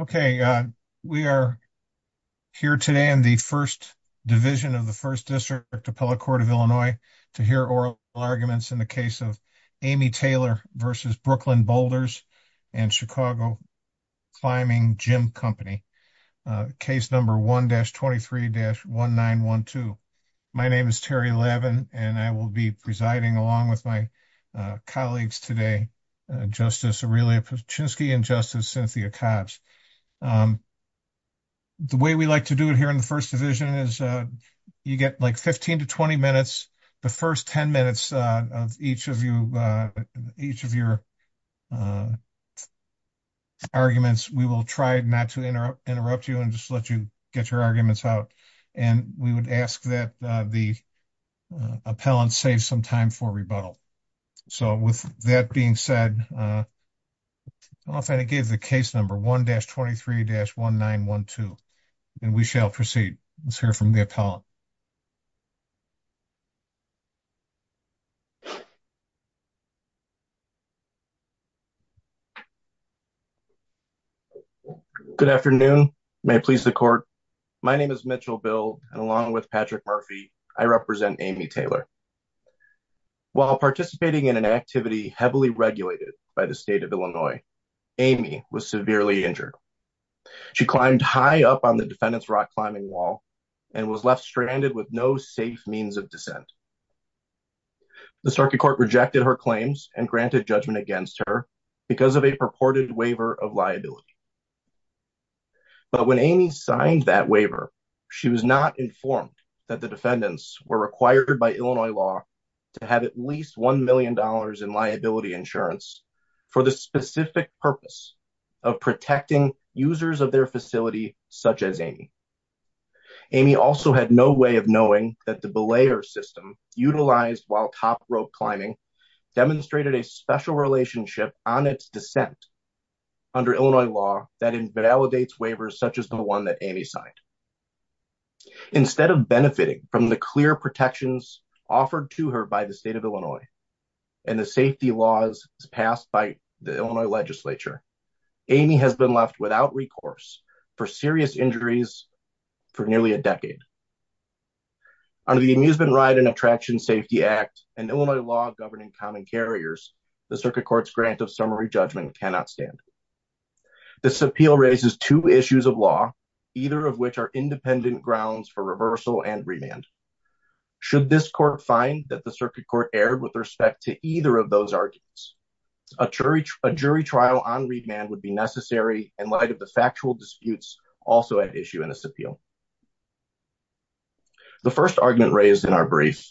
Okay, we are here today in the first division of the First District Appellate Court of Illinois to hear oral arguments in the case of Amy Taylor v. Brooklyn Boulders and Chicago Climbing Gym Company, case number 1-23-1912. My name is Terry Levin and I will be presiding along with my colleagues today, Justice Aurelia Paczynski and Justice Cynthia Cobbs. The way we like to do it here in the first division is you get like 15 to 20 minutes. The first 10 minutes of each of your arguments, we will try not to interrupt you and just let you get your arguments out and we would ask that the appellant save some time for rebuttal. So with that being said, I don't know if I gave the case number 1-23-1912 and we shall proceed. Let's hear from the appellant. Mitchell Bill Good afternoon, may it please the court. My name is Mitchell Bill and along with Patrick Murphy, I represent Amy Taylor. While participating in an activity heavily regulated by the state of Illinois, Amy was severely injured. She climbed high up on the defendant's climbing wall and was left stranded with no safe means of descent. The circuit court rejected her claims and granted judgment against her because of a purported waiver of liability. But when Amy signed that waiver, she was not informed that the defendants were required by Illinois law to have at least $1 million in liability insurance for the specific purpose of protecting users of their facility such as Amy. Amy also had no way of knowing that the belayer system utilized while top rope climbing demonstrated a special relationship on its descent under Illinois law that invalidates waivers such as the one that Amy signed. Instead of benefiting from the clear protections offered to her by the state of Illinois and the safety laws passed by the Illinois legislature, Amy has been left without recourse for serious injuries for nearly a decade. Under the Amusement Ride and Attraction Safety Act and Illinois law governing common carriers, the circuit court's grant of summary judgment cannot stand. This appeal raises two issues of law, either of which are independent grounds for reversal and remand. Should this court find that circuit court erred with respect to either of those arguments, a jury trial on remand would be necessary in light of the factual disputes also at issue in this appeal. The first argument raised in our brief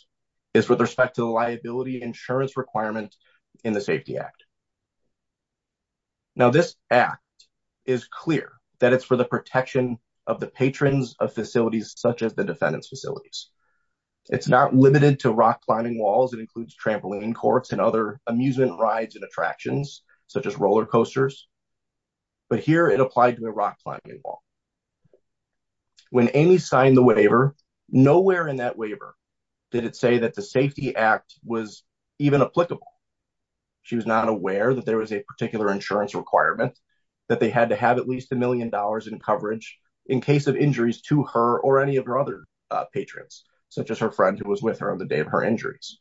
is with respect to the liability insurance requirement in the safety act. Now this act is clear that it's for the protection of the patrons of facilities such as the trampoline courts and other amusement rides and attractions such as roller coasters, but here it applied to a rock climbing wall. When Amy signed the waiver, nowhere in that waiver did it say that the safety act was even applicable. She was not aware that there was a particular insurance requirement that they had to have at least a million dollars in coverage in case of injuries to her or any of her other patrons such as her friend who was with her on the day of her injuries.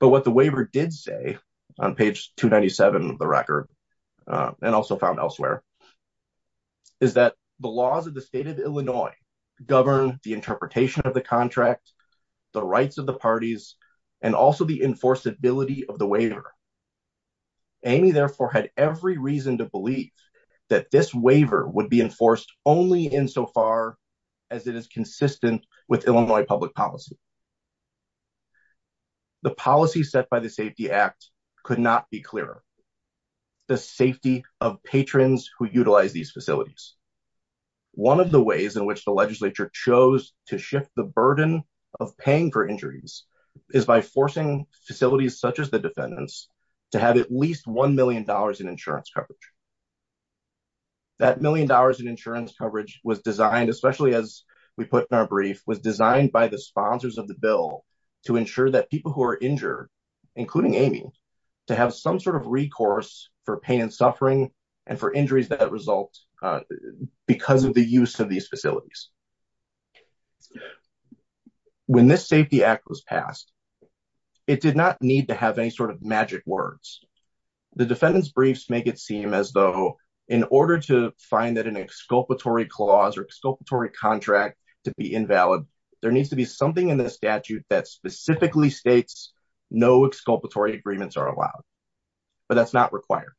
But what the waiver did say on page 297 of the record and also found elsewhere is that the laws of the state of Illinois govern the interpretation of the contract, the rights of the parties, and also the enforceability of the waiver. Amy therefore had every reason to believe that this waiver would be enforced only insofar as it is consistent with Illinois public policy. The policy set by the safety act could not be clearer. The safety of patrons who utilize these facilities. One of the ways in which the legislature chose to shift the burden of paying for injuries is by forcing facilities such as the defendants to have at least one million dollars in insurance coverage. That million dollars in insurance coverage was designed, especially as we put in was designed by the sponsors of the bill to ensure that people who are injured, including Amy, to have some sort of recourse for pain and suffering and for injuries that result because of the use of these facilities. When this safety act was passed, it did not need to have any sort of magic words. The defendant's briefs make it seem as though in order to find that an exculpatory clause or exculpatory contract to be invalid, there needs to be something in the statute that specifically states no exculpatory agreements are allowed. But that's not required.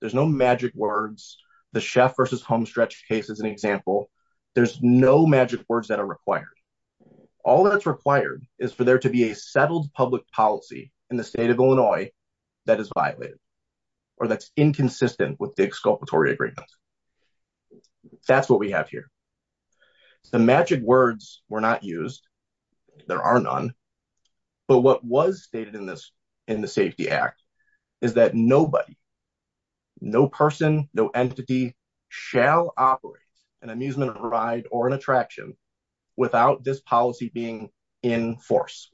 There's no magic words. The chef versus homestretch case is an example. There's no magic words that are required. All that's required is for there to be a settled public policy in the state of Illinois that is violated or that's inconsistent with the exculpatory agreement. That's what we have here. The magic words were not used. There are none. But what was stated in this in the safety act is that nobody, no person, no entity shall operate an amusement ride or an without this policy being in force.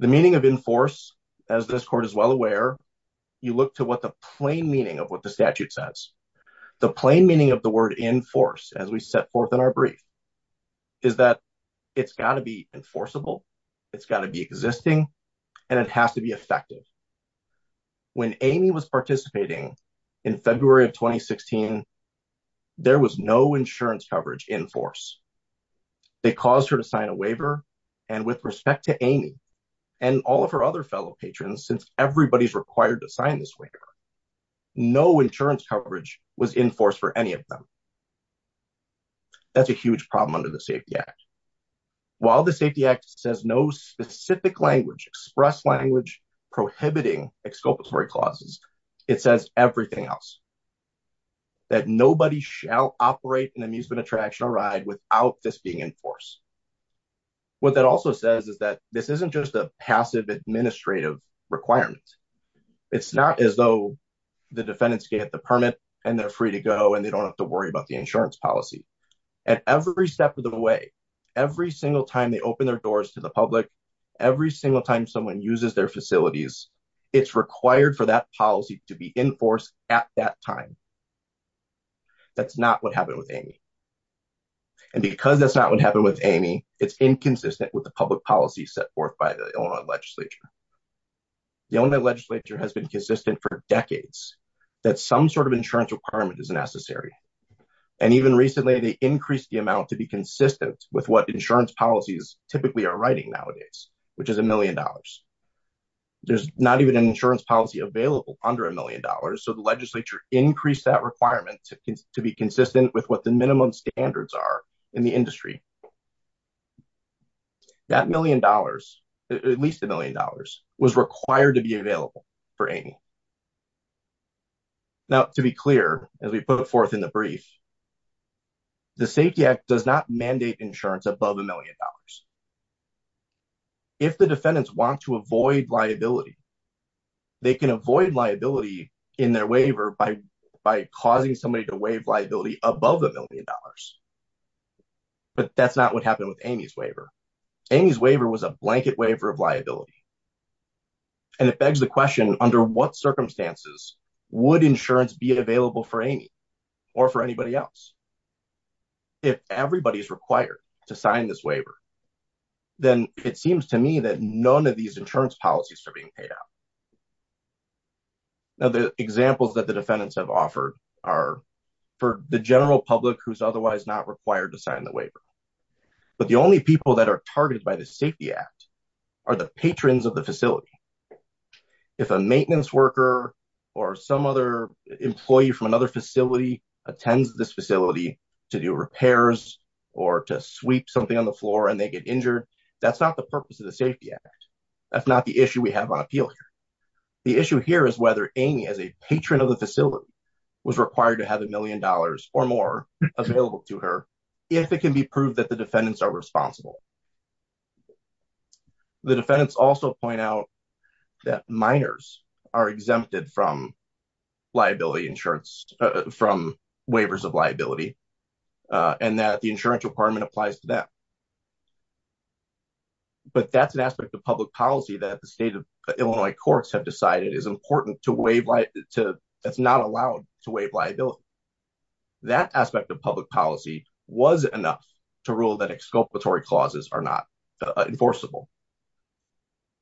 The meaning of in force, as this court is well aware, you look to what the plain meaning of what the statute says. The plain meaning of the word in force as we set forth in our brief is that it's got to be enforceable. It's got to be existing and it has to be effective. When Amy was participating in February of 2016, there was no insurance coverage in force. They caused her to sign a waiver and with respect to Amy and all of her other fellow patrons, since everybody's required to sign this waiver, no insurance coverage was in force for any of them. That's a huge problem under the safety act. While the safety act says no specific language, express language prohibiting exculpatory clauses, it says everything else. That nobody shall operate an amusement attraction or ride without this being in force. What that also says is that this isn't just a passive administrative requirement. It's not as though the defendants get the permit and they're free to go and they don't have to worry about the insurance policy. At every step of the way, every single time they open their doors to the public, every single time someone uses their facilities, it's required for that policy to be in force at that time. That's not what happened with Amy. And because that's not what happened with Amy, it's inconsistent with the public policy set forth by the Illinois legislature. The Illinois legislature has been consistent for decades that some sort of insurance requirement is necessary. And even recently they increased the amount to be consistent with what insurance policies typically are writing nowadays, which is a million dollars. There's not even an insurance policy available under a million dollars. So the legislature increased that requirement to be consistent with what the minimum standards are in the industry. That million dollars, at least a million dollars, was required to be available for Amy. Now to be clear, as we put forth in the brief, the safety act does not mandate insurance above a million dollars. If the defendants want to avoid liability, they can avoid liability in their waiver by causing somebody to waive liability above a million dollars. But that's not what happened with Amy's waiver. Amy's waiver was a blanket waiver of liability. And it begs the question, under what circumstances would insurance be available for Amy or for anybody else? If everybody's required to sign this waiver, then it seems to me that none of these insurance policies are being paid out. Now the examples that the defendants have offered are for the general public who's otherwise not required to sign the waiver. But the only people that are targeted by the safety act are the patrons of the facility. If a maintenance worker or some other employee from another facility attends this facility to do repairs or to sweep something on the floor and they get injured, that's not the purpose of the safety act. That's not the issue we have on appeal. The issue here is whether Amy, as a patron of the facility, was required to have a million dollars or more available to her, if it can be proved that the defendants are responsible. The defendants also point out that minors are exempted from liability insurance, from waivers of liability, and that the insurance department applies to that. But that's an aspect of public policy that the state of Illinois courts have decided is important to waive, that's not allowed to waive liability. That aspect of public policy was enough to rule that exculpatory clauses are not enforceable.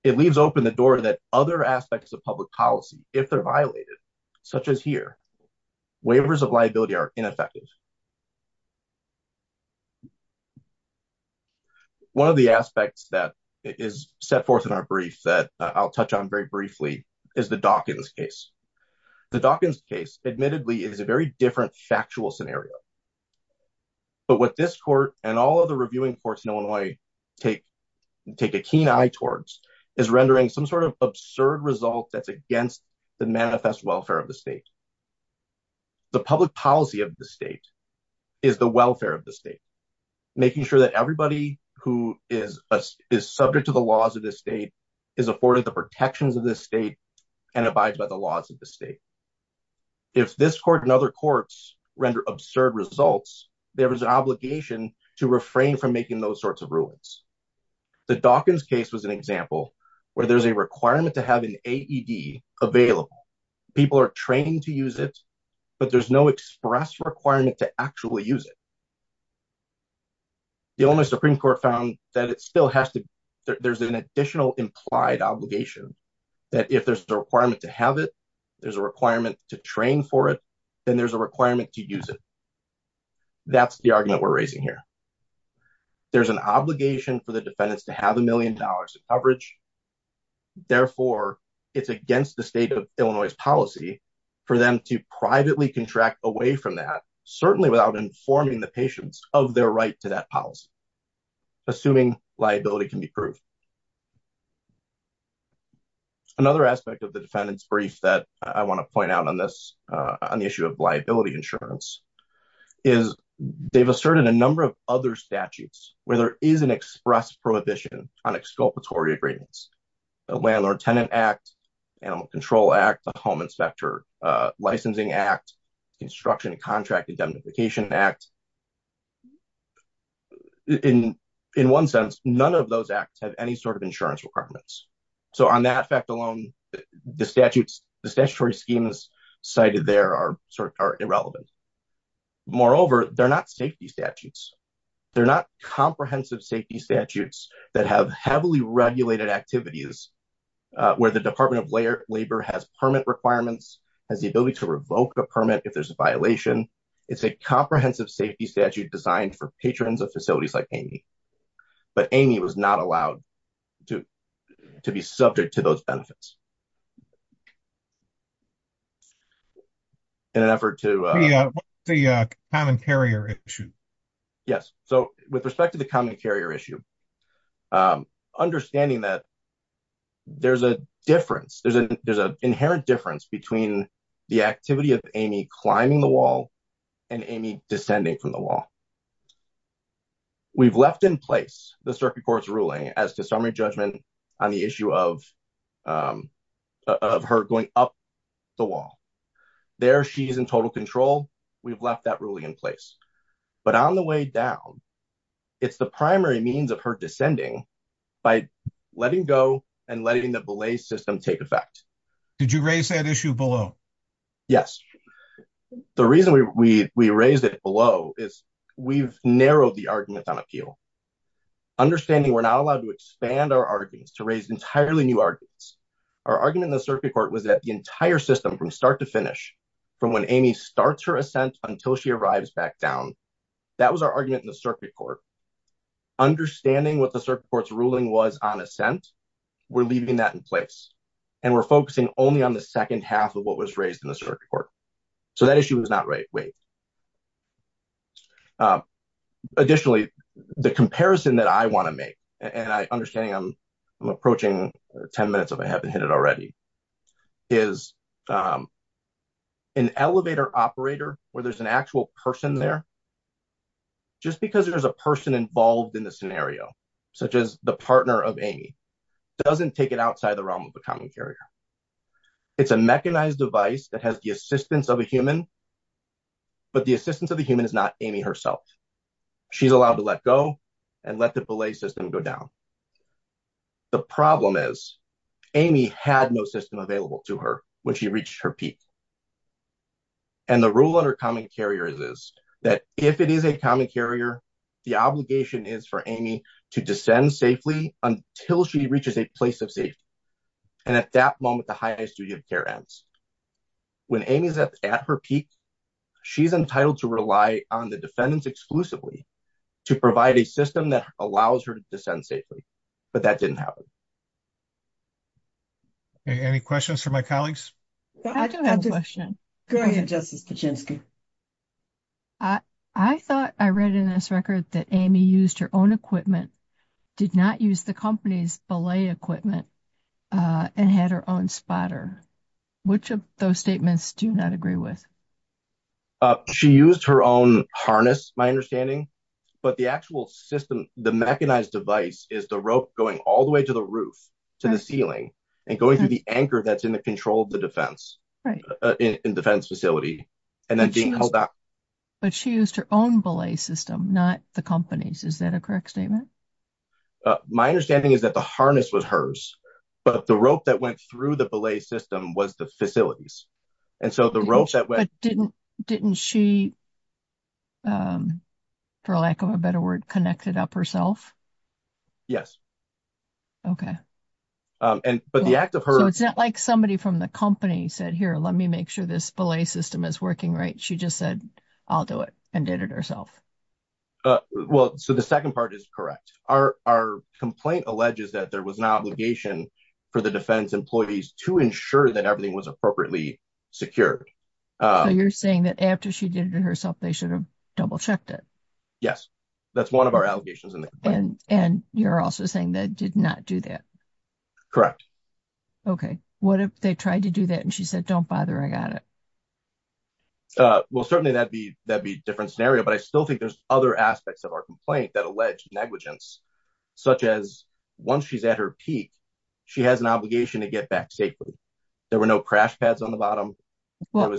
It leaves open the door that other aspects of public policy, if they're violated, such as here, waivers of liability are ineffective. One of the aspects that is set forth in our brief that I'll touch on very briefly is the Dawkins case. The Dawkins case admittedly is a very different factual scenario. But what this court and all of the reviewing courts in Illinois take a keen eye towards is rendering some sort of absurd result that's against the manifest welfare of the state. The public policy of the state is the welfare of the state, making sure that everybody who is subject to the laws of the state is afforded the protections of the state and abides by the laws of the state. If this court and other courts render absurd results, there is an obligation to refrain from making those sorts of rulings. The Dawkins case was an example where there's a requirement to have an AED available. People are trained to use it, but there's no express requirement to actually use it. The Illinois Supreme Court found that there's an additional implied obligation that if there's a requirement to have it, there's a requirement to train for it, then there's a requirement to use it. That's the argument we're raising here. There's an obligation for the defendants to have a million dollars of coverage. Therefore, it's against the state of Illinois' policy for them to privately contract away from that, certainly without informing the patients of their right to that policy, assuming liability can be proved. Another aspect of the defendant's brief that I want to point out on this, on the issue of liability insurance, is they've asserted a number of other statutes where there is an express prohibition on exculpatory agreements. The Landlord-Tenant Act, Animal Control Act, the Home Vacation Act, in one sense, none of those acts have any sort of insurance requirements. On that fact alone, the statutory schemes cited there are irrelevant. Moreover, they're not safety statutes. They're not comprehensive safety statutes that have heavily regulated activities where the Department of Labor has permit requirements, has the ability to revoke a permit if there's a violation. It's a comprehensive safety statute designed for patrons of facilities like Amy. But Amy was not allowed to be subject to those benefits. In an effort to... Yeah, the common carrier issue. Yes. So, with respect to the common carrier issue, understanding that there's a difference, there's an inherent difference between the activity of Amy climbing the wall and Amy descending from the wall. We've left in place the Circuit Court's ruling as to summary judgment on the issue of her going up the wall. There, she is in total control. We've left that ruling in place. But on the way down, it's the primary means of her descending by letting go and letting the belay system take effect. Did you raise that issue below? Yes. The reason we raised it below is we've narrowed the argument on appeal. Understanding we're not allowed to expand our arguments, to raise entirely new arguments. Our argument in the Circuit Court was that the entire system from start to finish, from when Amy starts her ascent until she arrives back down, that was our argument in the Circuit Court. Understanding what the Circuit Court's ruling was on ascent, we're leaving that in place. And we're focusing only on the second half of what was raised in the Circuit Court. So, that issue was not raised. Additionally, the comparison that I want to make, and understanding I'm approaching 10 minutes if I haven't hit it already, is an elevator operator where there's an actual person there. Just because there's a person involved in the scenario, such as the partner of Amy, doesn't take it outside the realm of a common carrier. It's a mechanized device that has the assistance of a human, but the assistance of the human is not Amy herself. She's allowed to let go and let the belay system go down. The problem is Amy had no system available to her when she reached her peak. And the rule under common carriers is that if it is a common carrier, the obligation is for Amy to descend safely until she reaches a place of safety. And at that moment, the high-risk duty of care ends. When Amy's at her peak, she's entitled to rely on the defendants exclusively to provide a system that allows her to descend safely. But that didn't happen. Any questions for my colleagues? I do have a question. Go ahead, Justice Kuczynski. I thought I read in this record that Amy used her own equipment, did not use the company's belay equipment, and had her own spotter. Which of those statements do you not agree with? She used her own harness, my understanding. But the actual system, the mechanized device, is the rope going all the way to the roof, to the ceiling, and going through the anchor that's in the control of the defense facility. But she used her own belay system, not the company's. Is that a correct statement? My understanding is that the harness was hers, but the rope that went through the belay system was the facility's. But didn't she, for lack of a better word, connect it up herself? Yes. Okay. So it's not like somebody from the company said, here, let me make sure this belay system is working right. She just said, I'll do it, and did it herself. Well, so the second part is correct. Our complaint alleges that there was an obligation for the defense employees to ensure that everything was appropriately secured. So you're saying that after she did it herself, they should have double checked it. Yes. That's one of our allegations in the complaint. And you're also saying they did not do that? Correct. Okay. What if they tried to do that and she said, don't bother, I got it? Well, certainly that'd be a different scenario. But I still think there's other aspects of our complaint that allege negligence, such as once she's at her peak, she has an obligation to get back safely. There were no crash pads on the bottom. How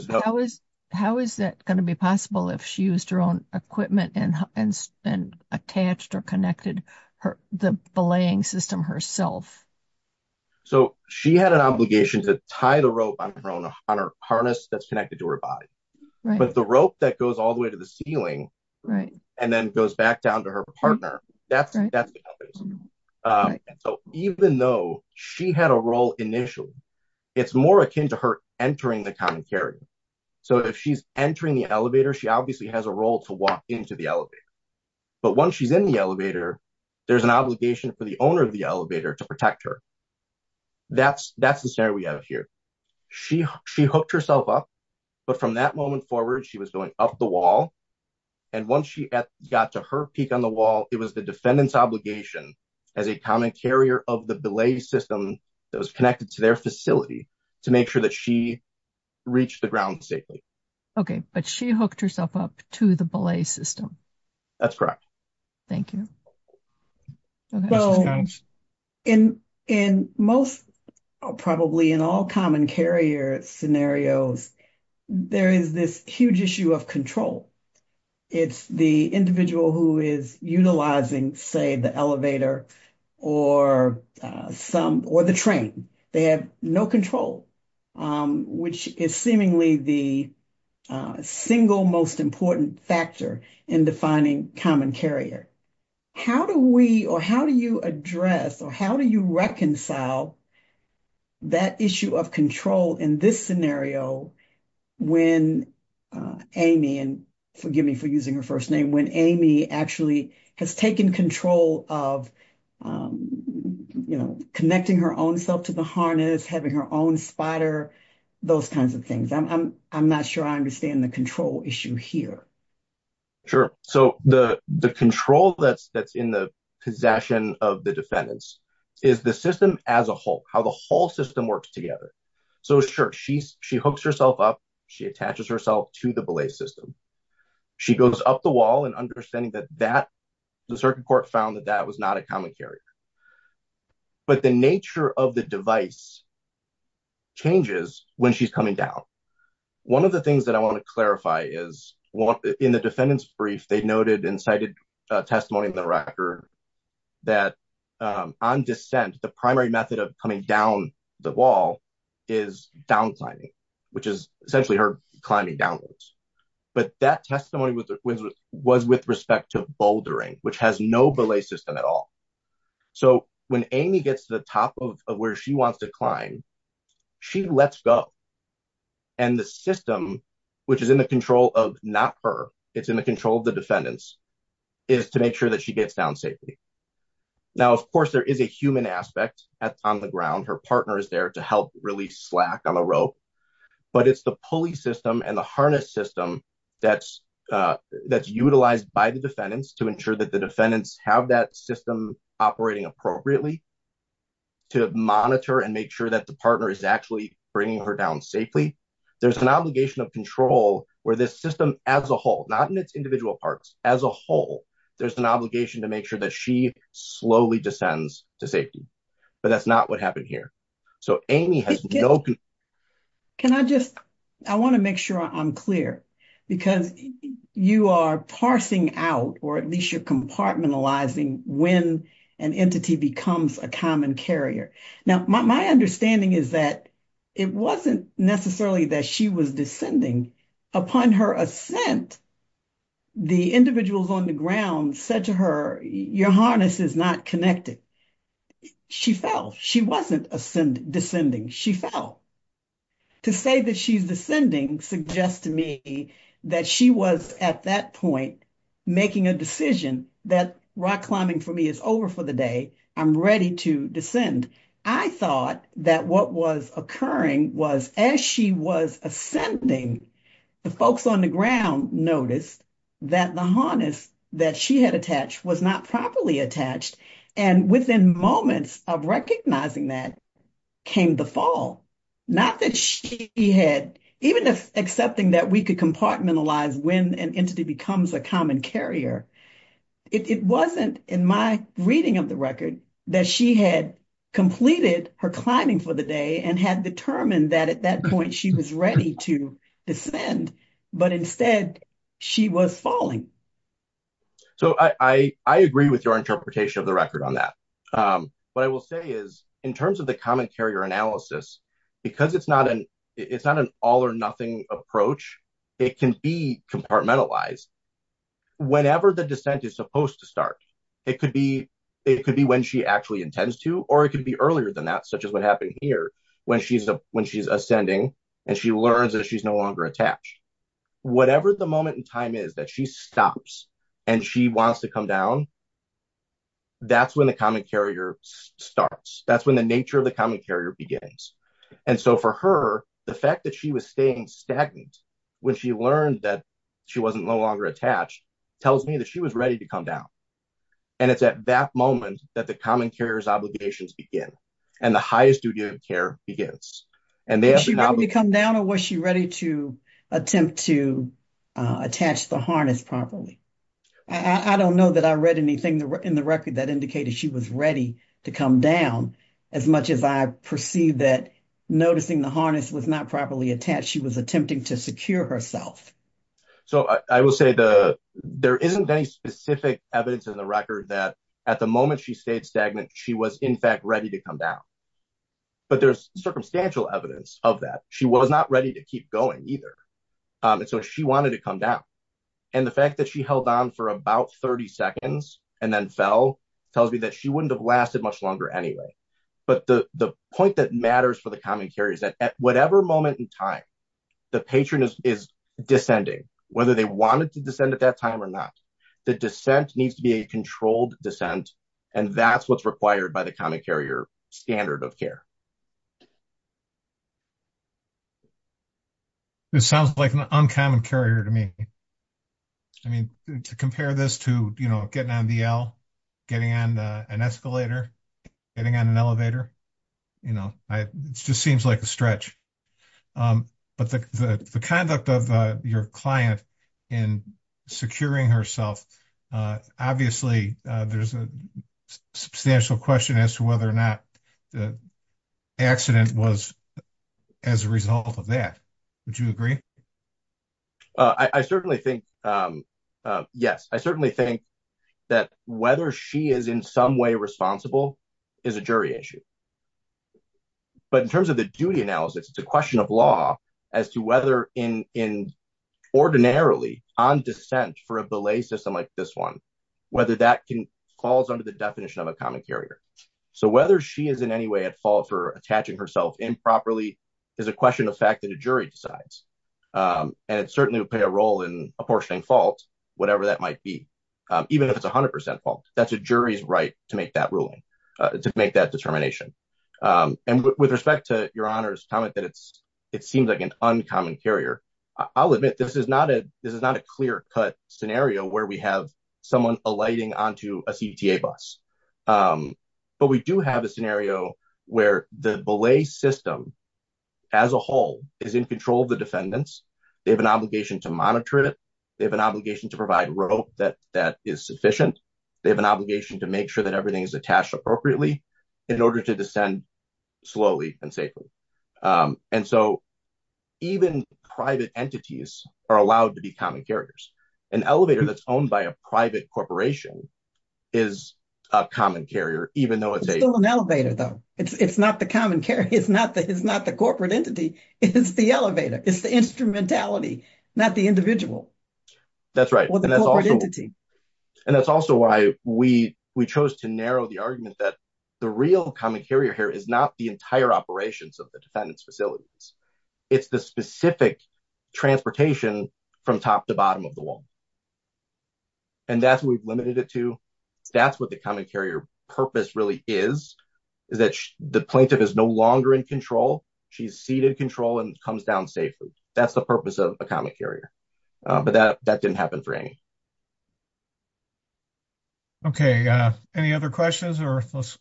is that going to be possible if she used her own equipment and attached or connected the belaying system herself? So she had an obligation to tie the rope on her harness that's connected to her body. But the rope that goes all the way to the ceiling and then goes back down to her partner, that's what happens. So even though she had a role initially, it's more akin to her entering the common carrier. So if she's entering the elevator, she obviously has a role to walk into the elevator. But once she's in the elevator, there's an obligation for the owner of the elevator to protect her. That's the scenario we have here. She hooked herself up. But from that moment forward, she was going up the wall. And once she got to her peak on the wall, it was the defendant's obligation as a common carrier of the belay system that was connected to their facility to make sure that she reached the ground safely. Okay, but she hooked herself up to the belay system. That's correct. Thank you. Well, in most, probably in all common carrier scenarios, there is this huge issue of control. It's the individual who is utilizing, say, the elevator or the train. They have no control, which is seemingly the single most important factor in defining common carrier. How do we or how do you address or how do you reconcile that issue of control in this scenario when Amy, and forgive me for using her first name, when Amy actually has taken control of connecting her own self to the harness, having her own spider, those kinds of things? I'm not sure I understand the control issue here. Sure. So the control that's in the possession of the defendants is the system as a whole, how the whole system works together. So sure, she hooks herself up. She attaches herself to the wall and understanding that the circuit court found that that was not a common carrier. But the nature of the device changes when she's coming down. One of the things that I want to clarify is in the defendant's brief, they noted and cited testimony in the record that on descent, the primary method of coming down the wall is down climbing, which is essentially her climbing downwards. But that testimony was with respect to bouldering, which has no belay system at all. So when Amy gets to the top of where she wants to climb, she lets go. And the system, which is in the control of not her, it's in the control of the defendants, is to make sure that she gets down safely. Now, of course, there is a human aspect on the ground. Her partner is there to help release slack on the rope. But it's the pulley system and the harness system that's utilized by the defendants to ensure that the defendants have that system operating appropriately to monitor and make sure that the partner is actually bringing her down safely. There's an obligation of control where this system as a whole, not in its individual parts, as a whole, there's an obligation to make sure that she slowly descends to safety. But that's not what happened here. So Amy has no... Can I just, I want to make sure I'm clear, because you are parsing out, or at least you're compartmentalizing when an entity becomes a common carrier. Now, my understanding is that it wasn't necessarily that she was descending. Upon her ascent, the individuals on the ground said to her, your harness is not connected. She fell. She wasn't descending. She fell. To say that she's descending suggests to me that she was, at that point, making a decision that rock climbing for me is over for the day. I'm ready to descend. I thought that what was occurring was as she was ascending, the folks on the ground noticed that the harness that she had attached was not properly attached. And within moments of recognizing that came the fall. Not that she had, even if accepting that we could compartmentalize when an entity becomes a common carrier, it wasn't in my reading of the record that she had completed her climbing for the day and had determined that at that point she was ready to descend. But instead, she was falling. So, I agree with your interpretation of the record on that. What I will say is, in terms of the common carrier analysis, because it's not an all or nothing approach, it can be compartmentalized whenever the descent is supposed to start. It could be when she actually intends to, or it could be earlier than that, such as what happened here, when she's ascending and she learns that she's no longer attached. Whatever the moment in time is that she stops and she wants to come down, that's when the common carrier starts. That's when the nature of the common carrier begins. And so, for her, the fact that she was staying stagnant when she learned that she wasn't no longer attached tells me that she was ready to come down. And it's at that moment that the common carrier's obligations begin and the highest duty of care begins. Was she ready to come down or was she ready to attempt to attach the harness properly? I don't know that I read anything in the record that indicated she was ready to come down, as much as I perceive that noticing the harness was not properly attached, she was attempting to secure herself. So, I will say there isn't any specific evidence in the record that at the moment she stayed stagnant, she was, in fact, ready to come down. But there's circumstantial evidence of that. She was not ready to keep going either. And so, she wanted to come down. And the fact that she held on for about 30 seconds and then fell tells me that she wouldn't have lasted much longer anyway. But the point that matters for the common carrier is that at whatever moment in time the patron is descending, whether they wanted to descend at that time or not, the descent needs to be a controlled descent. And that's what's required by the common carrier standard of care. It sounds like an uncommon carrier to me. I mean, to compare this to, you know, getting on the L, getting on an escalator, getting on an elevator, you know, it just seems like a stretch. But the conduct of your client in securing herself, obviously, there's a substantial question as to whether or not the accident was as a result of that. Would you agree? I certainly think, yes. I certainly think that whether she is in some way responsible is a jury issue. But in terms of the duty analysis, it's a question of law as to whether ordinarily on descent for a belay system like this one, whether that falls under the definition of a common carrier. So, whether she is in any way at fault for attaching herself improperly is a question of fact that a jury decides. And it certainly would play a role in apportioning fault, whatever that might be. Even if it's 100% fault, that's a jury's right to make that ruling. To make that determination. And with respect to your Honor's comment that it's, it seems like an uncommon carrier, I'll admit this is not a, this is not a clear cut scenario where we have someone alighting onto a CDTA bus. But we do have a scenario where the belay system as a whole is in control of the defendants. They have an obligation to monitor it. They have an obligation to provide rope that is sufficient. They have an obligation to make sure that everything is attached appropriately in order to descend slowly and safely. And so, even private entities are allowed to be common carriers. An elevator that's owned by a private corporation is a common carrier, even though it's a- It's still an elevator though. It's not the common carrier. It's not the, it's not the corporate entity. It's the elevator. It's the instrumentality, not the individual. That's right. And that's also- Or the corporate entity. The real common carrier here is not the entire operations of the defendant's facilities. It's the specific transportation from top to bottom of the wall. And that's what we've limited it to. That's what the common carrier purpose really is, is that the plaintiff is no longer in control. She's seated in control and comes down safely. That's the purpose of a common carrier. But that didn't happen for any. Okay. Any other questions? Or let's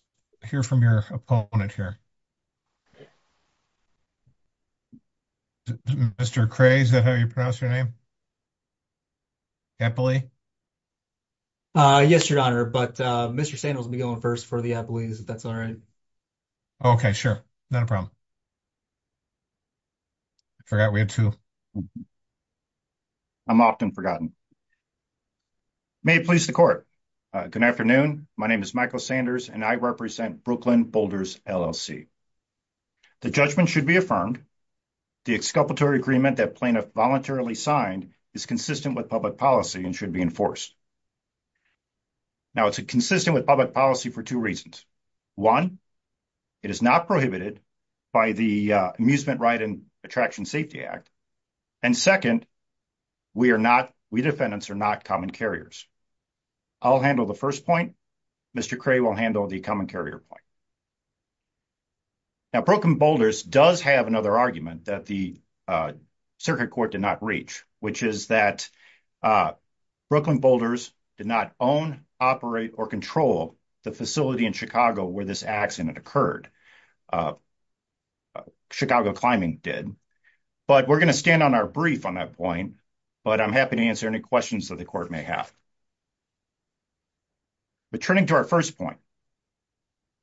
hear from your opponent here. Mr. Cray, is that how you pronounce your name? Eppley? Yes, Your Honor. But Mr. Sandals will be going first for the Eppley's, if that's all right. Okay, sure. Not a problem. I forgot we had two. I'm often forgotten. May it please the court. Good afternoon. My name is Michael Sanders and I represent Brooklyn Boulders LLC. The judgment should be affirmed. The exculpatory agreement that plaintiff voluntarily signed is consistent with public policy and should be enforced. Now, it's consistent with public policy for two reasons. One, it is not prohibited by the Eppley's. And second, we defendants are not common carriers. I'll handle the first point. Mr. Cray will handle the common carrier point. Now, Brooklyn Boulders does have another argument that the circuit court did not reach, which is that Brooklyn Boulders did not own, operate, or control the facility in Chicago where this accident occurred. Chicago Climbing did. But we're going to stand on our brief on that point. But I'm happy to answer any questions that the court may have. But turning to our first point,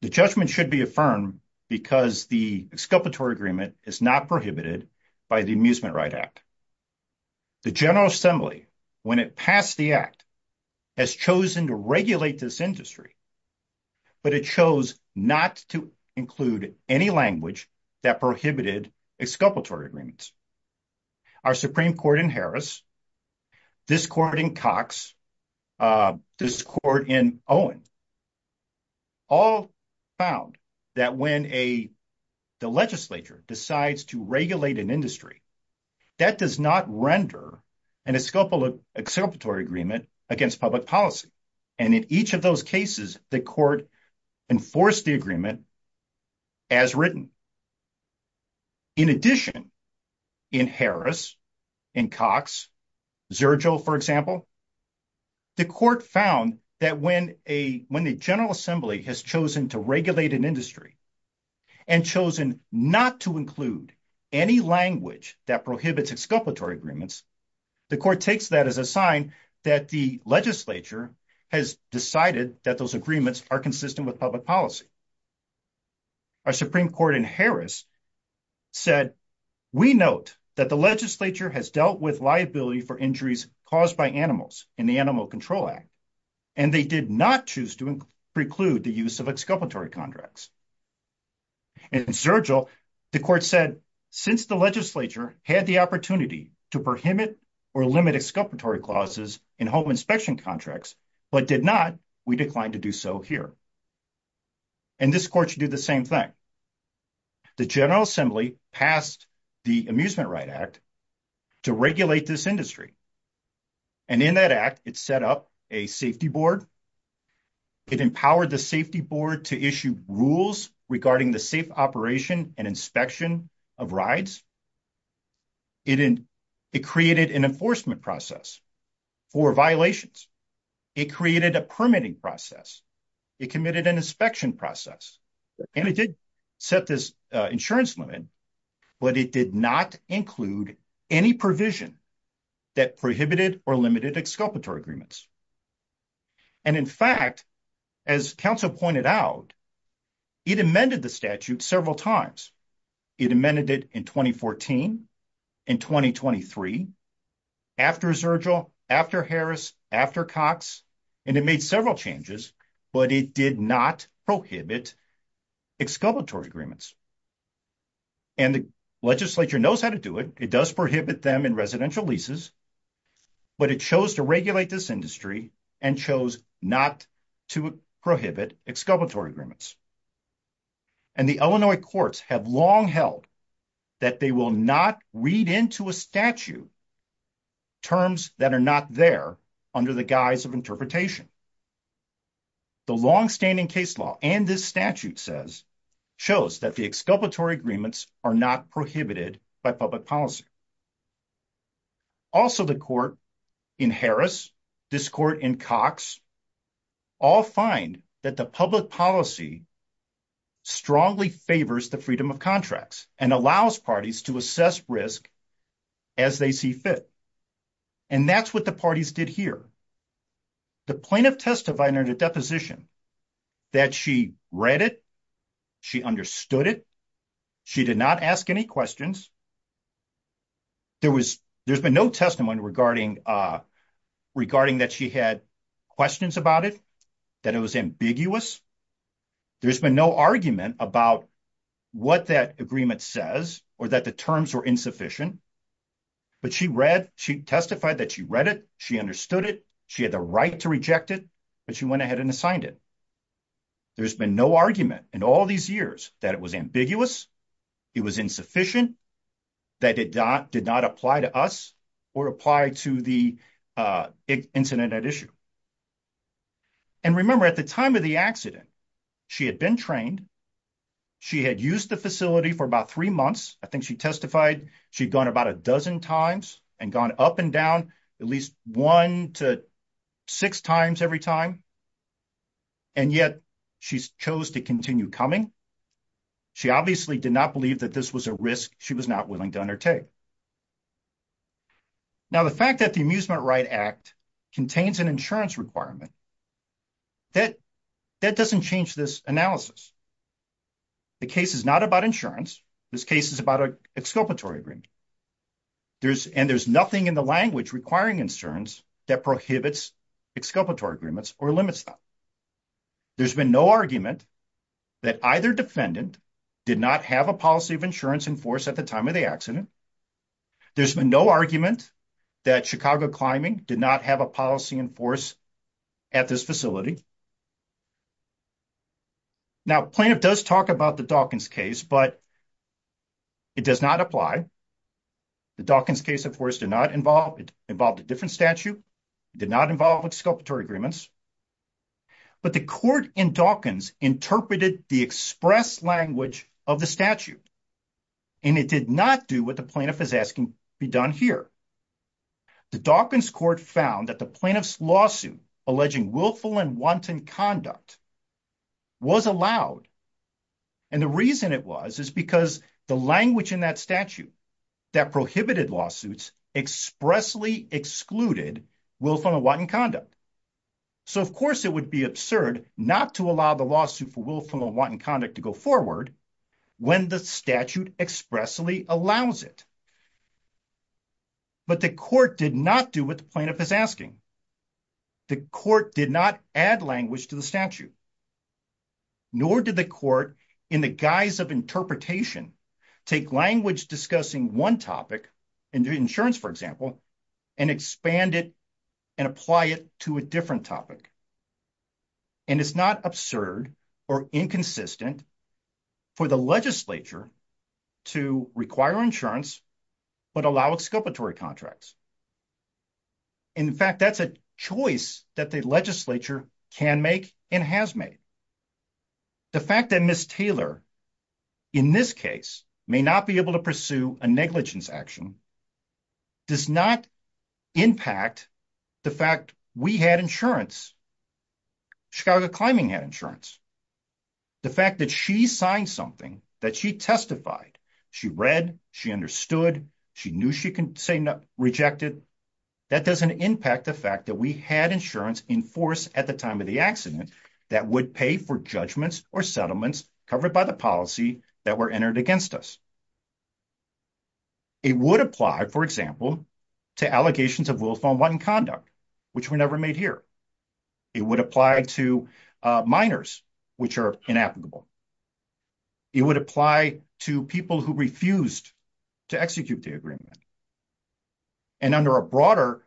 the judgment should be affirmed because the exculpatory agreement is not prohibited by the Amusement Right Act. The General Assembly, when it passed the act, has chosen to regulate this industry, but it chose not to include any language that prohibited exculpatory agreements. Our Supreme Court in Harris, this court in Cox, this court in Owen, all found that when the legislature decides to regulate an industry, that does not render an exculpatory agreement against public policy. And in each of those cases, the court enforced the agreement as written. In addition, in Harris, in Cox, Zergel, for example, the court found that when the General Assembly has chosen to regulate an industry and chosen not to include any language that prohibits exculpatory agreements, the court takes that as a sign that the legislature has decided that those agreements are consistent with public policy. Our Supreme Court in Harris said, we note that the legislature has dealt with liability for injuries caused by animals in the Animal Control Act, and they did not choose to preclude the use of exculpatory contracts. In Zergel, the court said, since the legislature had the opportunity to prohibit or limit exculpatory clauses in home inspection contracts, but did not, we declined to do so here. And this court should do the same thing. The General Assembly passed the Amusement Right Act to regulate this industry. And in that act, it set up a safety board. It empowered the safety board to issue rules regarding the safe operation and inspection of rides. It created an enforcement process for violations. It created a permitting process. It committed an inspection process. And it did set this insurance limit, but it did not include any provision that prohibited or limited exculpatory agreements. And in fact, as counsel pointed out, it amended the statute several times. It amended it in 2014, in 2023, after Zergel, after Harris, after Cox, and it made several changes, but it did not prohibit exculpatory agreements. And the legislature knows how to do it. It does prohibit them in residential leases, but it chose to regulate this industry and chose not to prohibit exculpatory agreements. And the Illinois courts have long held that they will not read into a and this statute shows that the exculpatory agreements are not prohibited by public policy. Also, the court in Harris, this court in Cox, all find that the public policy strongly favors the freedom of contracts and allows parties to assess risk as they see fit. And that's what the parties did here. The plaintiff testified under the deposition that she read it. She understood it. She did not ask any questions. There's been no testimony regarding that she had questions about it, that it was ambiguous. There's been no argument about what that agreement says or that the terms were insufficient, but she read, she testified that she read it. She understood it. She had the right to reject it, but she went ahead and assigned it. There's been no argument in all these years that it was ambiguous. It was insufficient that it did not apply to us or apply to the incident at issue. And remember at the time of the accident, she had been trained. She had used the facility for about three months. I think she testified. She'd gone about a dozen times and gone up and down at least one to six times every time. And yet she's chose to continue coming. She obviously did not believe that this was a risk she was not willing to undertake. Now, the fact that the Amusement Right Act contains an insurance requirement, that doesn't change this analysis. The case is not about insurance. This case is about exculpatory agreement. And there's nothing in the language requiring insurance that prohibits exculpatory agreements or limits them. There's been no argument that either defendant did not have a policy of insurance in force at the time of the accident. There's been no argument that Chicago Climbing did not have a policy in force at this facility. Now, Plaintiff does talk about the Dawkins case, but it does not apply. The Dawkins case, of course, did not involve a different statute. It did not involve exculpatory agreements. But the court in Dawkins interpreted the express language of the statute, and it did not do what the Plaintiff is asking be done here. The Dawkins court found that the Plaintiff's lawsuit alleging willful and wanton conduct was allowed. And the reason it was, is because the language in that statute that prohibited lawsuits expressly excluded willful and wanton conduct. So, of course, it would be absurd not to allow the lawsuit for willful and wanton conduct to go forward when the statute expressly allows it. But the court did not do what the court did not add language to the statute. Nor did the court, in the guise of interpretation, take language discussing one topic, insurance, for example, and expand it and apply it to a different topic. And it's not absurd or inconsistent for the legislature to require insurance, but allow exculpatory contracts. In fact, that's a choice that the legislature can make and has made. The fact that Ms. Taylor, in this case, may not be able to pursue a negligence action does not impact the fact we had insurance. Chicago Climbing had insurance. The fact that she signed something that she testified, she read, she understood, she knew she could say no, rejected, that doesn't impact the fact that we had insurance in force at the time of the accident that would pay for judgments or settlements covered by the policy that were entered against us. It would apply, for example, to allegations of willful and wanton conduct, which were never made here. It would apply to minors, which are inapplicable. It would apply to people who refused to execute the agreement. And under a broader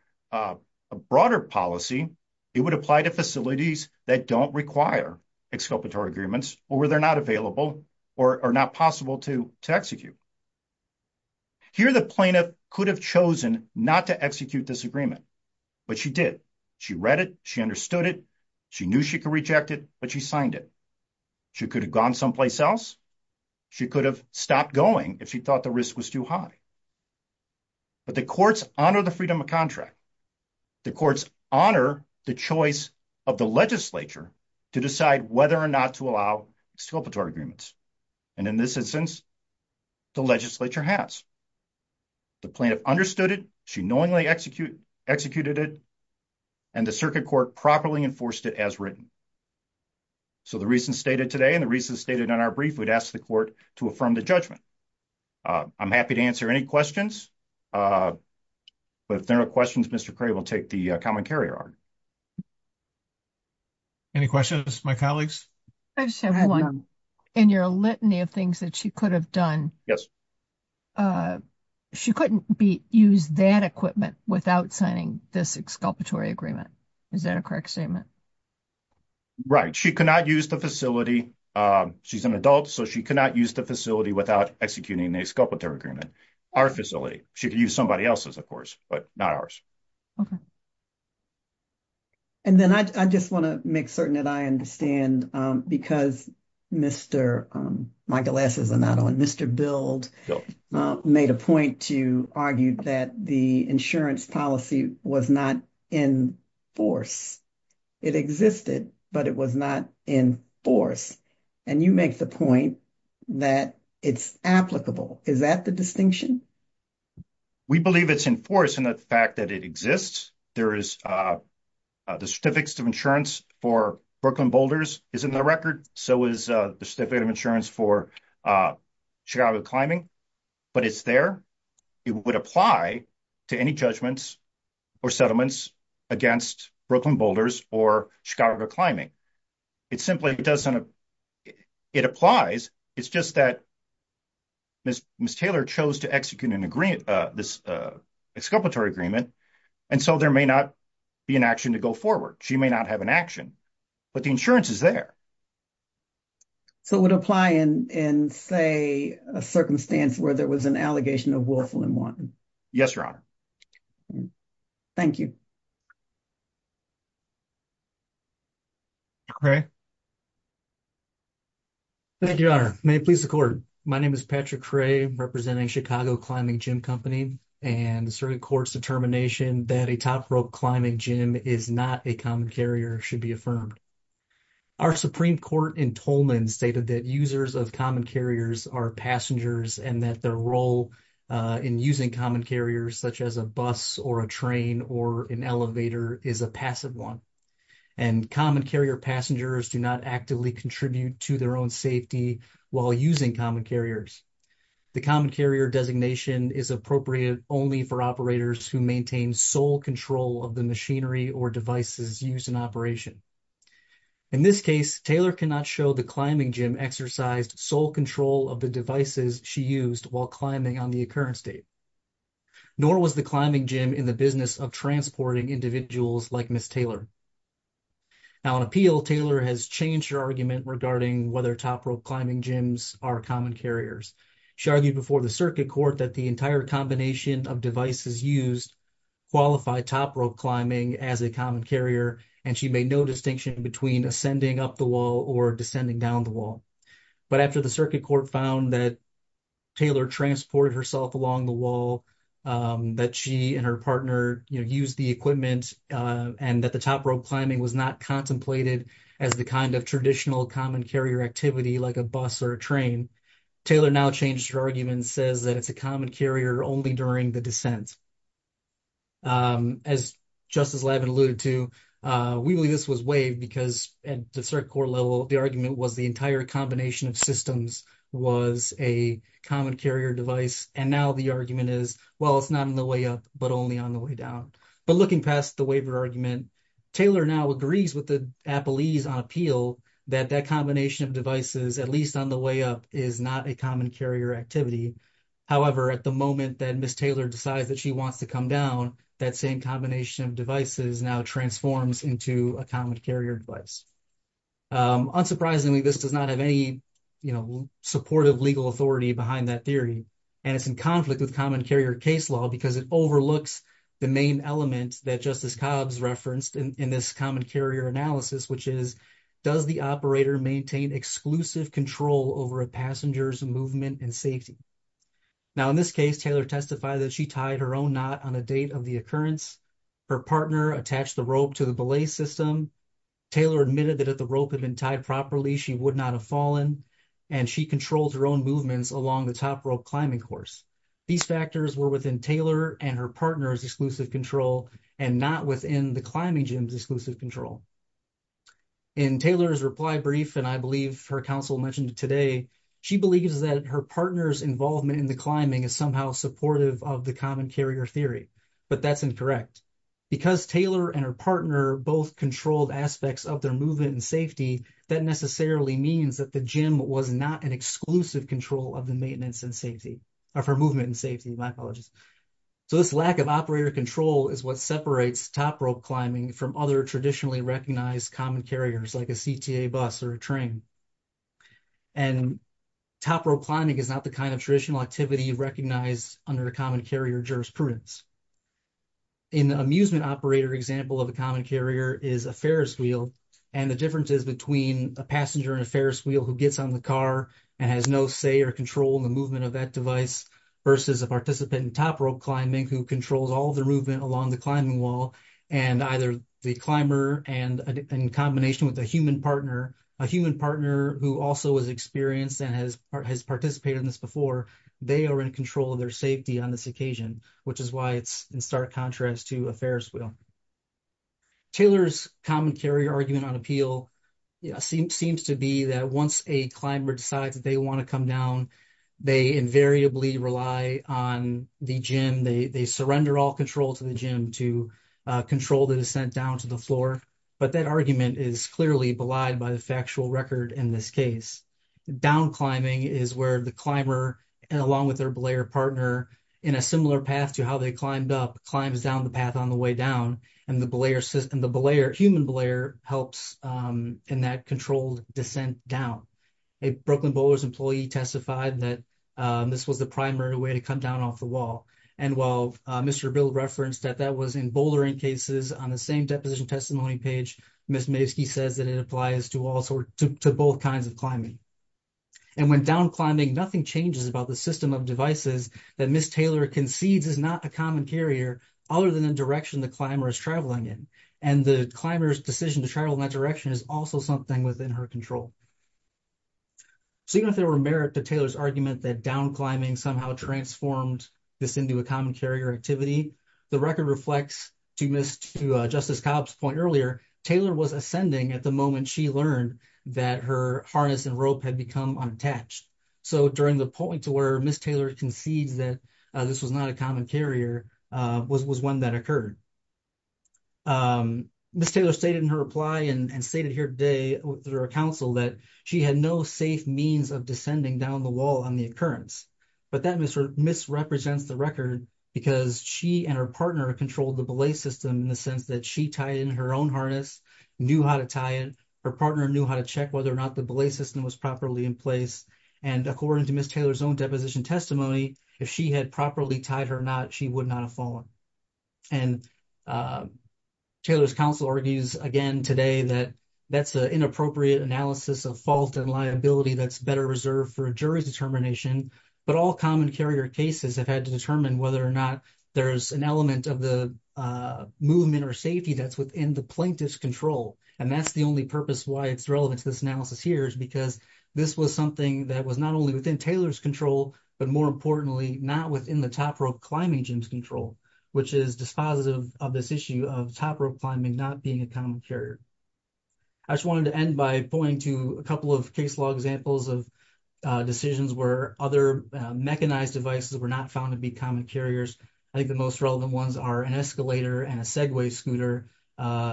policy, it would apply to facilities that don't require exculpatory agreements or where they're not available or not possible to execute. Here, the plaintiff could have chosen not to execute this agreement, but she did. She read it. She understood it. She knew she could reject it, but she signed it. She could have gone someplace else. She could have stopped going if she thought the risk was too high. But the courts honor the freedom of contract. The courts honor the choice of the legislature to decide whether or not to And in this instance, the legislature has. The plaintiff understood it. She knowingly executed it, and the circuit court properly enforced it as written. So the reasons stated today and the reasons stated in our brief, we'd ask the court to affirm the judgment. I'm happy to answer any questions, but if there are questions, Mr. Cray will take the common carrier. Any questions, my colleagues? You're a litany of things that she could have done. She couldn't use that equipment without signing this exculpatory agreement. Is that a correct statement? Right. She cannot use the facility. She's an adult, so she cannot use the facility without executing an exculpatory agreement. Our facility. She could use somebody else's, of course, but not ours. Okay. And then I just want to make certain that I understand because Mr. Michael S is not on. Mr. Build made a point to argue that the insurance policy was not in force. It existed, but it was not in force. And you make the point that it's applicable. Is that the distinction? We believe it's in force in the fact that it exists. There is the certificates of insurance for Brooklyn Boulders is in the record. So is the certificate of insurance for Chicago Climbing, but it's there. It would apply to any judgments or settlements against Brooklyn Boulders or Chicago Climbing. It simply doesn't. It applies. It's just that Miss Taylor chose to execute this exculpatory agreement, and so there may not be an action to go forward. She may not have an action, but the insurance is there. So it would apply in, say, a circumstance where there was an allegation of willful and wanton. Yes, Your Honor. Thank you. Mr. Cray. Thank you, Your Honor. May it please the Court. My name is Patrick Cray representing Chicago Climbing Gym Company, and the Supreme Court's determination that a top rope climbing gym is not a common carrier should be affirmed. Our Supreme Court in Tolman stated that users of common carriers are passengers and that their role in using common carriers, such as a bus or a train or an elevator, is a passive one, and common carrier passengers do not actively contribute to their own safety while using common carriers. The common carrier designation is appropriate only for operators who maintain sole control of the machinery or devices used in operation. In this case, Taylor cannot show the climbing gym exercised sole control of the devices she used while climbing on the occurrence date, nor was the climbing gym in the business of transporting individuals like Ms. Taylor. Now on appeal, Taylor has changed her argument regarding whether top rope climbing gyms are common carriers. She argued before the circuit court that the entire combination of devices used qualify top rope climbing as a common carrier, and she made no distinction between ascending up the wall or descending down the wall. But after the circuit court found that Taylor transported herself along the wall, that she and her partner used the equipment, and that the top rope climbing was not contemplated as the kind of traditional common carrier activity like a bus or a train, Taylor now changed her argument and says that it's a common carrier only during the descent. As Justice Lavin alluded to, we believe this was waived because at the circuit court level, the argument was the entire combination of systems was a common carrier device, and now the argument is, well, it's not on the way up, but only on the way down. But looking past the waiver argument, Taylor now agrees with the appellees on appeal that that combination of devices, at least on the way up, is not a common carrier activity. However, at the moment that Ms. Taylor decides that she wants to come down, that same combination of devices now transforms into a common carrier device. Unsurprisingly, this does not have any, you know, supportive legal authority behind that theory, and it's in conflict with common carrier case law because it overlooks the main element that Justice Cobbs referenced in this common carrier analysis, which is, does the operator maintain exclusive control over a passenger's movement and safety? Now, in this case, Taylor testified that she tied her own knot on a date of the occurrence. Her partner attached the rope to the belay system. Taylor admitted that if the rope had been tied properly, she would not have fallen, and she controlled her own movements along the top rope climbing course. These factors were within Taylor and her partner's exclusive control and not within the climbing gym's exclusive control. In Taylor's reply brief, and I believe her counsel mentioned today, she believes that her partner's involvement in the climbing is somehow supportive of the her partner both controlled aspects of their movement and safety. That necessarily means that the gym was not an exclusive control of the maintenance and safety, of her movement and safety. My apologies. So, this lack of operator control is what separates top rope climbing from other traditionally recognized common carriers, like a CTA bus or a train, and top rope climbing is not the kind of traditional activity recognized under the common carrier jurisprudence. An amusement operator example of a common carrier is a Ferris wheel, and the difference is between a passenger in a Ferris wheel who gets on the car and has no say or control in the movement of that device versus a participant in top rope climbing who controls all the movement along the climbing wall, and either the climber and in combination with a human partner, a human partner who also was experienced and has participated in this before, they are in control of their safety on this occasion, which is why it's in stark contrast to a Ferris wheel. Taylor's common carrier argument on appeal seems to be that once a climber decides that they want to come down, they invariably rely on the gym, they surrender all control to the gym to control the descent down to the floor, but that argument is clearly belied by the factual record in this case. Down climbing is where the climber, along with their belayer partner, in a similar path to how they climbed up, climbs down the path on the way down, and the belayer, human belayer, helps in that controlled descent down. A Brooklyn boulders employee testified that this was the primary way to come down off the wall, and while Mr. Bill referenced that that was in bouldering cases on the same deposition testimony page, Ms. Mavsky says that it applies to both kinds of and when down climbing, nothing changes about the system of devices that Ms. Taylor concedes is not a common carrier other than the direction the climber is traveling in, and the climber's decision to travel in that direction is also something within her control. So even if there were merit to Taylor's argument that down climbing somehow transformed this into a common carrier activity, the record reflects, to Ms., to Justice Cobb's point earlier, Taylor was ascending at the she learned that her harness and rope had become unattached. So during the point to where Ms. Taylor concedes that this was not a common carrier was one that occurred. Ms. Taylor stated in her reply and stated here today through her counsel that she had no safe means of descending down the wall on the occurrence, but that misrepresents the record because she and her partner controlled the belay system in the sense that she tied in her own knew how to tie it. Her partner knew how to check whether or not the belay system was properly in place. And according to Ms. Taylor's own deposition testimony, if she had properly tied her knot, she would not have fallen. And Taylor's counsel argues again today that that's an inappropriate analysis of fault and liability that's better reserved for a jury's determination, but all common carrier cases have had to determine whether or not there's an element of the movement or safety that's within the plaintiff's control. And that's the only purpose why it's relevant to this analysis here is because this was something that was not only within Taylor's control, but more importantly, not within the top rope climbing gym's control, which is dispositive of this issue of top rope climbing not being a common carrier. I just wanted to end by pointing to a couple of case law examples of decisions where other mechanized devices were not found to be common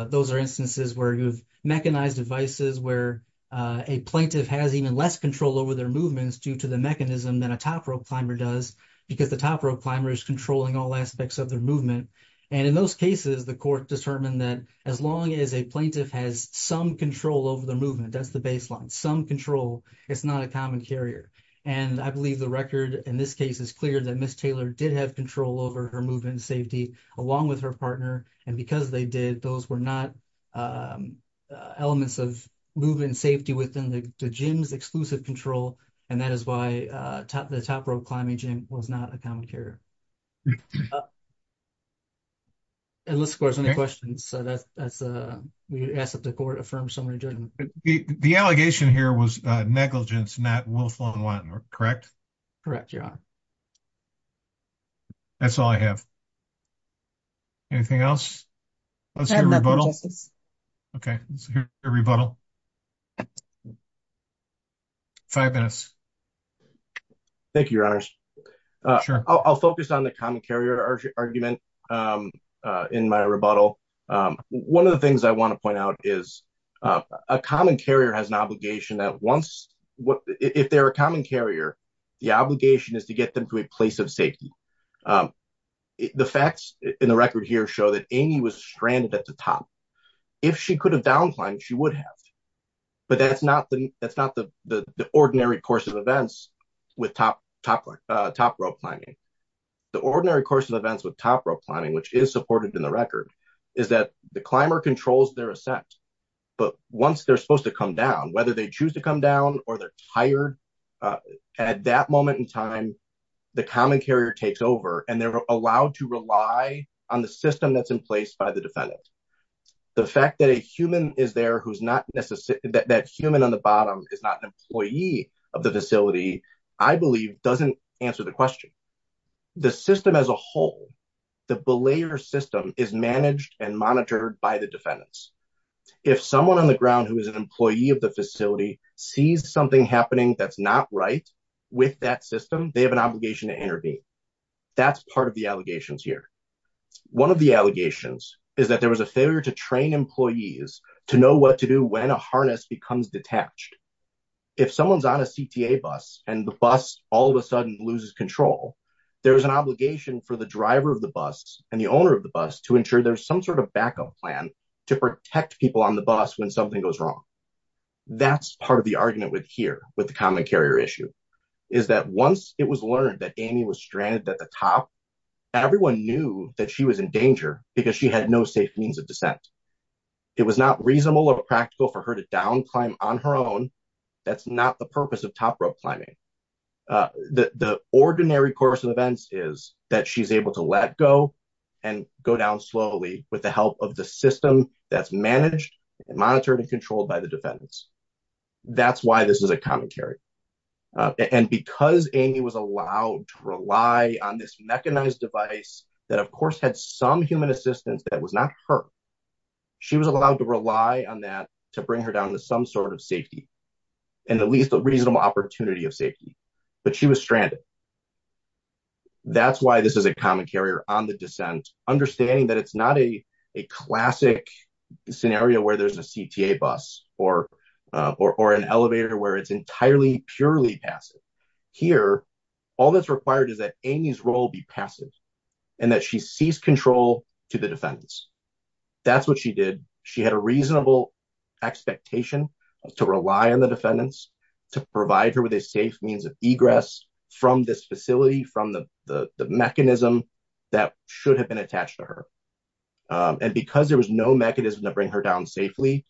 those are instances where you've mechanized devices where a plaintiff has even less control over their movements due to the mechanism than a top rope climber does because the top rope climber is controlling all aspects of their movement. And in those cases, the court determined that as long as a plaintiff has some control over the movement, that's the baseline, some control, it's not a common carrier. And I believe the record in this case is clear that Ms. Taylor did have control over her movement and safety along with her partner. And because they did, those were not elements of movement and safety within the gym's exclusive control. And that is why the top rope climbing gym was not a common carrier. And let's go to some questions. So that's, that's, we asked that the court affirmed so many judgments. The allegation here was negligence, not willful unwanted, correct? Correct, your honor. That's all I have. Anything else? Let's hear a rebuttal. Okay, let's hear a rebuttal. Five minutes. Thank you, your honors. I'll focus on the common carrier argument in my rebuttal. One of the things I want to point out is a common carrier has an obligation that if they're a common carrier, the obligation is to get them to a place of safety. The facts in the record here show that Amy was stranded at the top. If she could have down climbed, she would have. But that's not the ordinary course of events with top rope climbing. The ordinary course of events with top rope climbing, which is supported in the record, is that the climber controls their ascent. But once they're supposed to come down, whether they choose to come down or they're tired, at that moment in time, the common carrier takes over and they're allowed to rely on the system that's in place by the defendant. The fact that a human is there who's not necessarily that human on the bottom is not an employee of the facility, I believe doesn't answer the question. The system as a whole, the belayer system is managed and monitored by the defendants. If someone on the ground who is employee of the facility sees something happening that's not right with that system, they have an obligation to intervene. That's part of the allegations here. One of the allegations is that there was a failure to train employees to know what to do when a harness becomes detached. If someone's on a CTA bus and the bus all of a sudden loses control, there's an obligation for the driver of the bus and the owner of the bus to ensure there's some sort of backup plan to protect people on the bus when something goes wrong. That's part of the argument here with the common carrier issue, is that once it was learned that Amy was stranded at the top, everyone knew that she was in danger because she had no safe means of descent. It was not reasonable or practical for her to down climb on her own. That's not the purpose of top rope climbing. The ordinary course of events is that she's able to let go and go down slowly with the help of the system that's monitored and controlled by the defendants. That's why this is a common carrier. Because Amy was allowed to rely on this mechanized device that, of course, had some human assistance that was not her, she was allowed to rely on that to bring her down to some sort of safety and at least a reasonable opportunity of safety, but she was stranded. That's why this is a common carrier on the descent, understanding that it's not a classic scenario where there's a CTA bus or an elevator where it's entirely purely passive. Here, all that's required is that Amy's role be passive and that she seize control to the defendants. That's what she did. She had a reasonable expectation to rely on the defendants to provide her with a safe means of egress from this facility, from the mechanism that should have been attached to her. Because there was no mechanism to bring her down safely,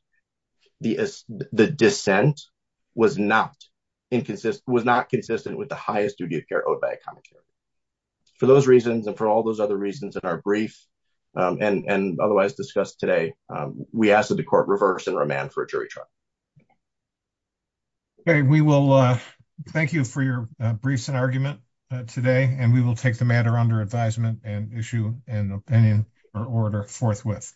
the descent was not inconsistent with the highest duty of care owed by a common carrier. For those reasons and for all those other reasons in our brief and otherwise discussed today, we ask that the court reverse and remand for a jury trial. Okay, we will thank you for your briefs and argument today and we will take the matter under advisement and issue an opinion or order forthwith.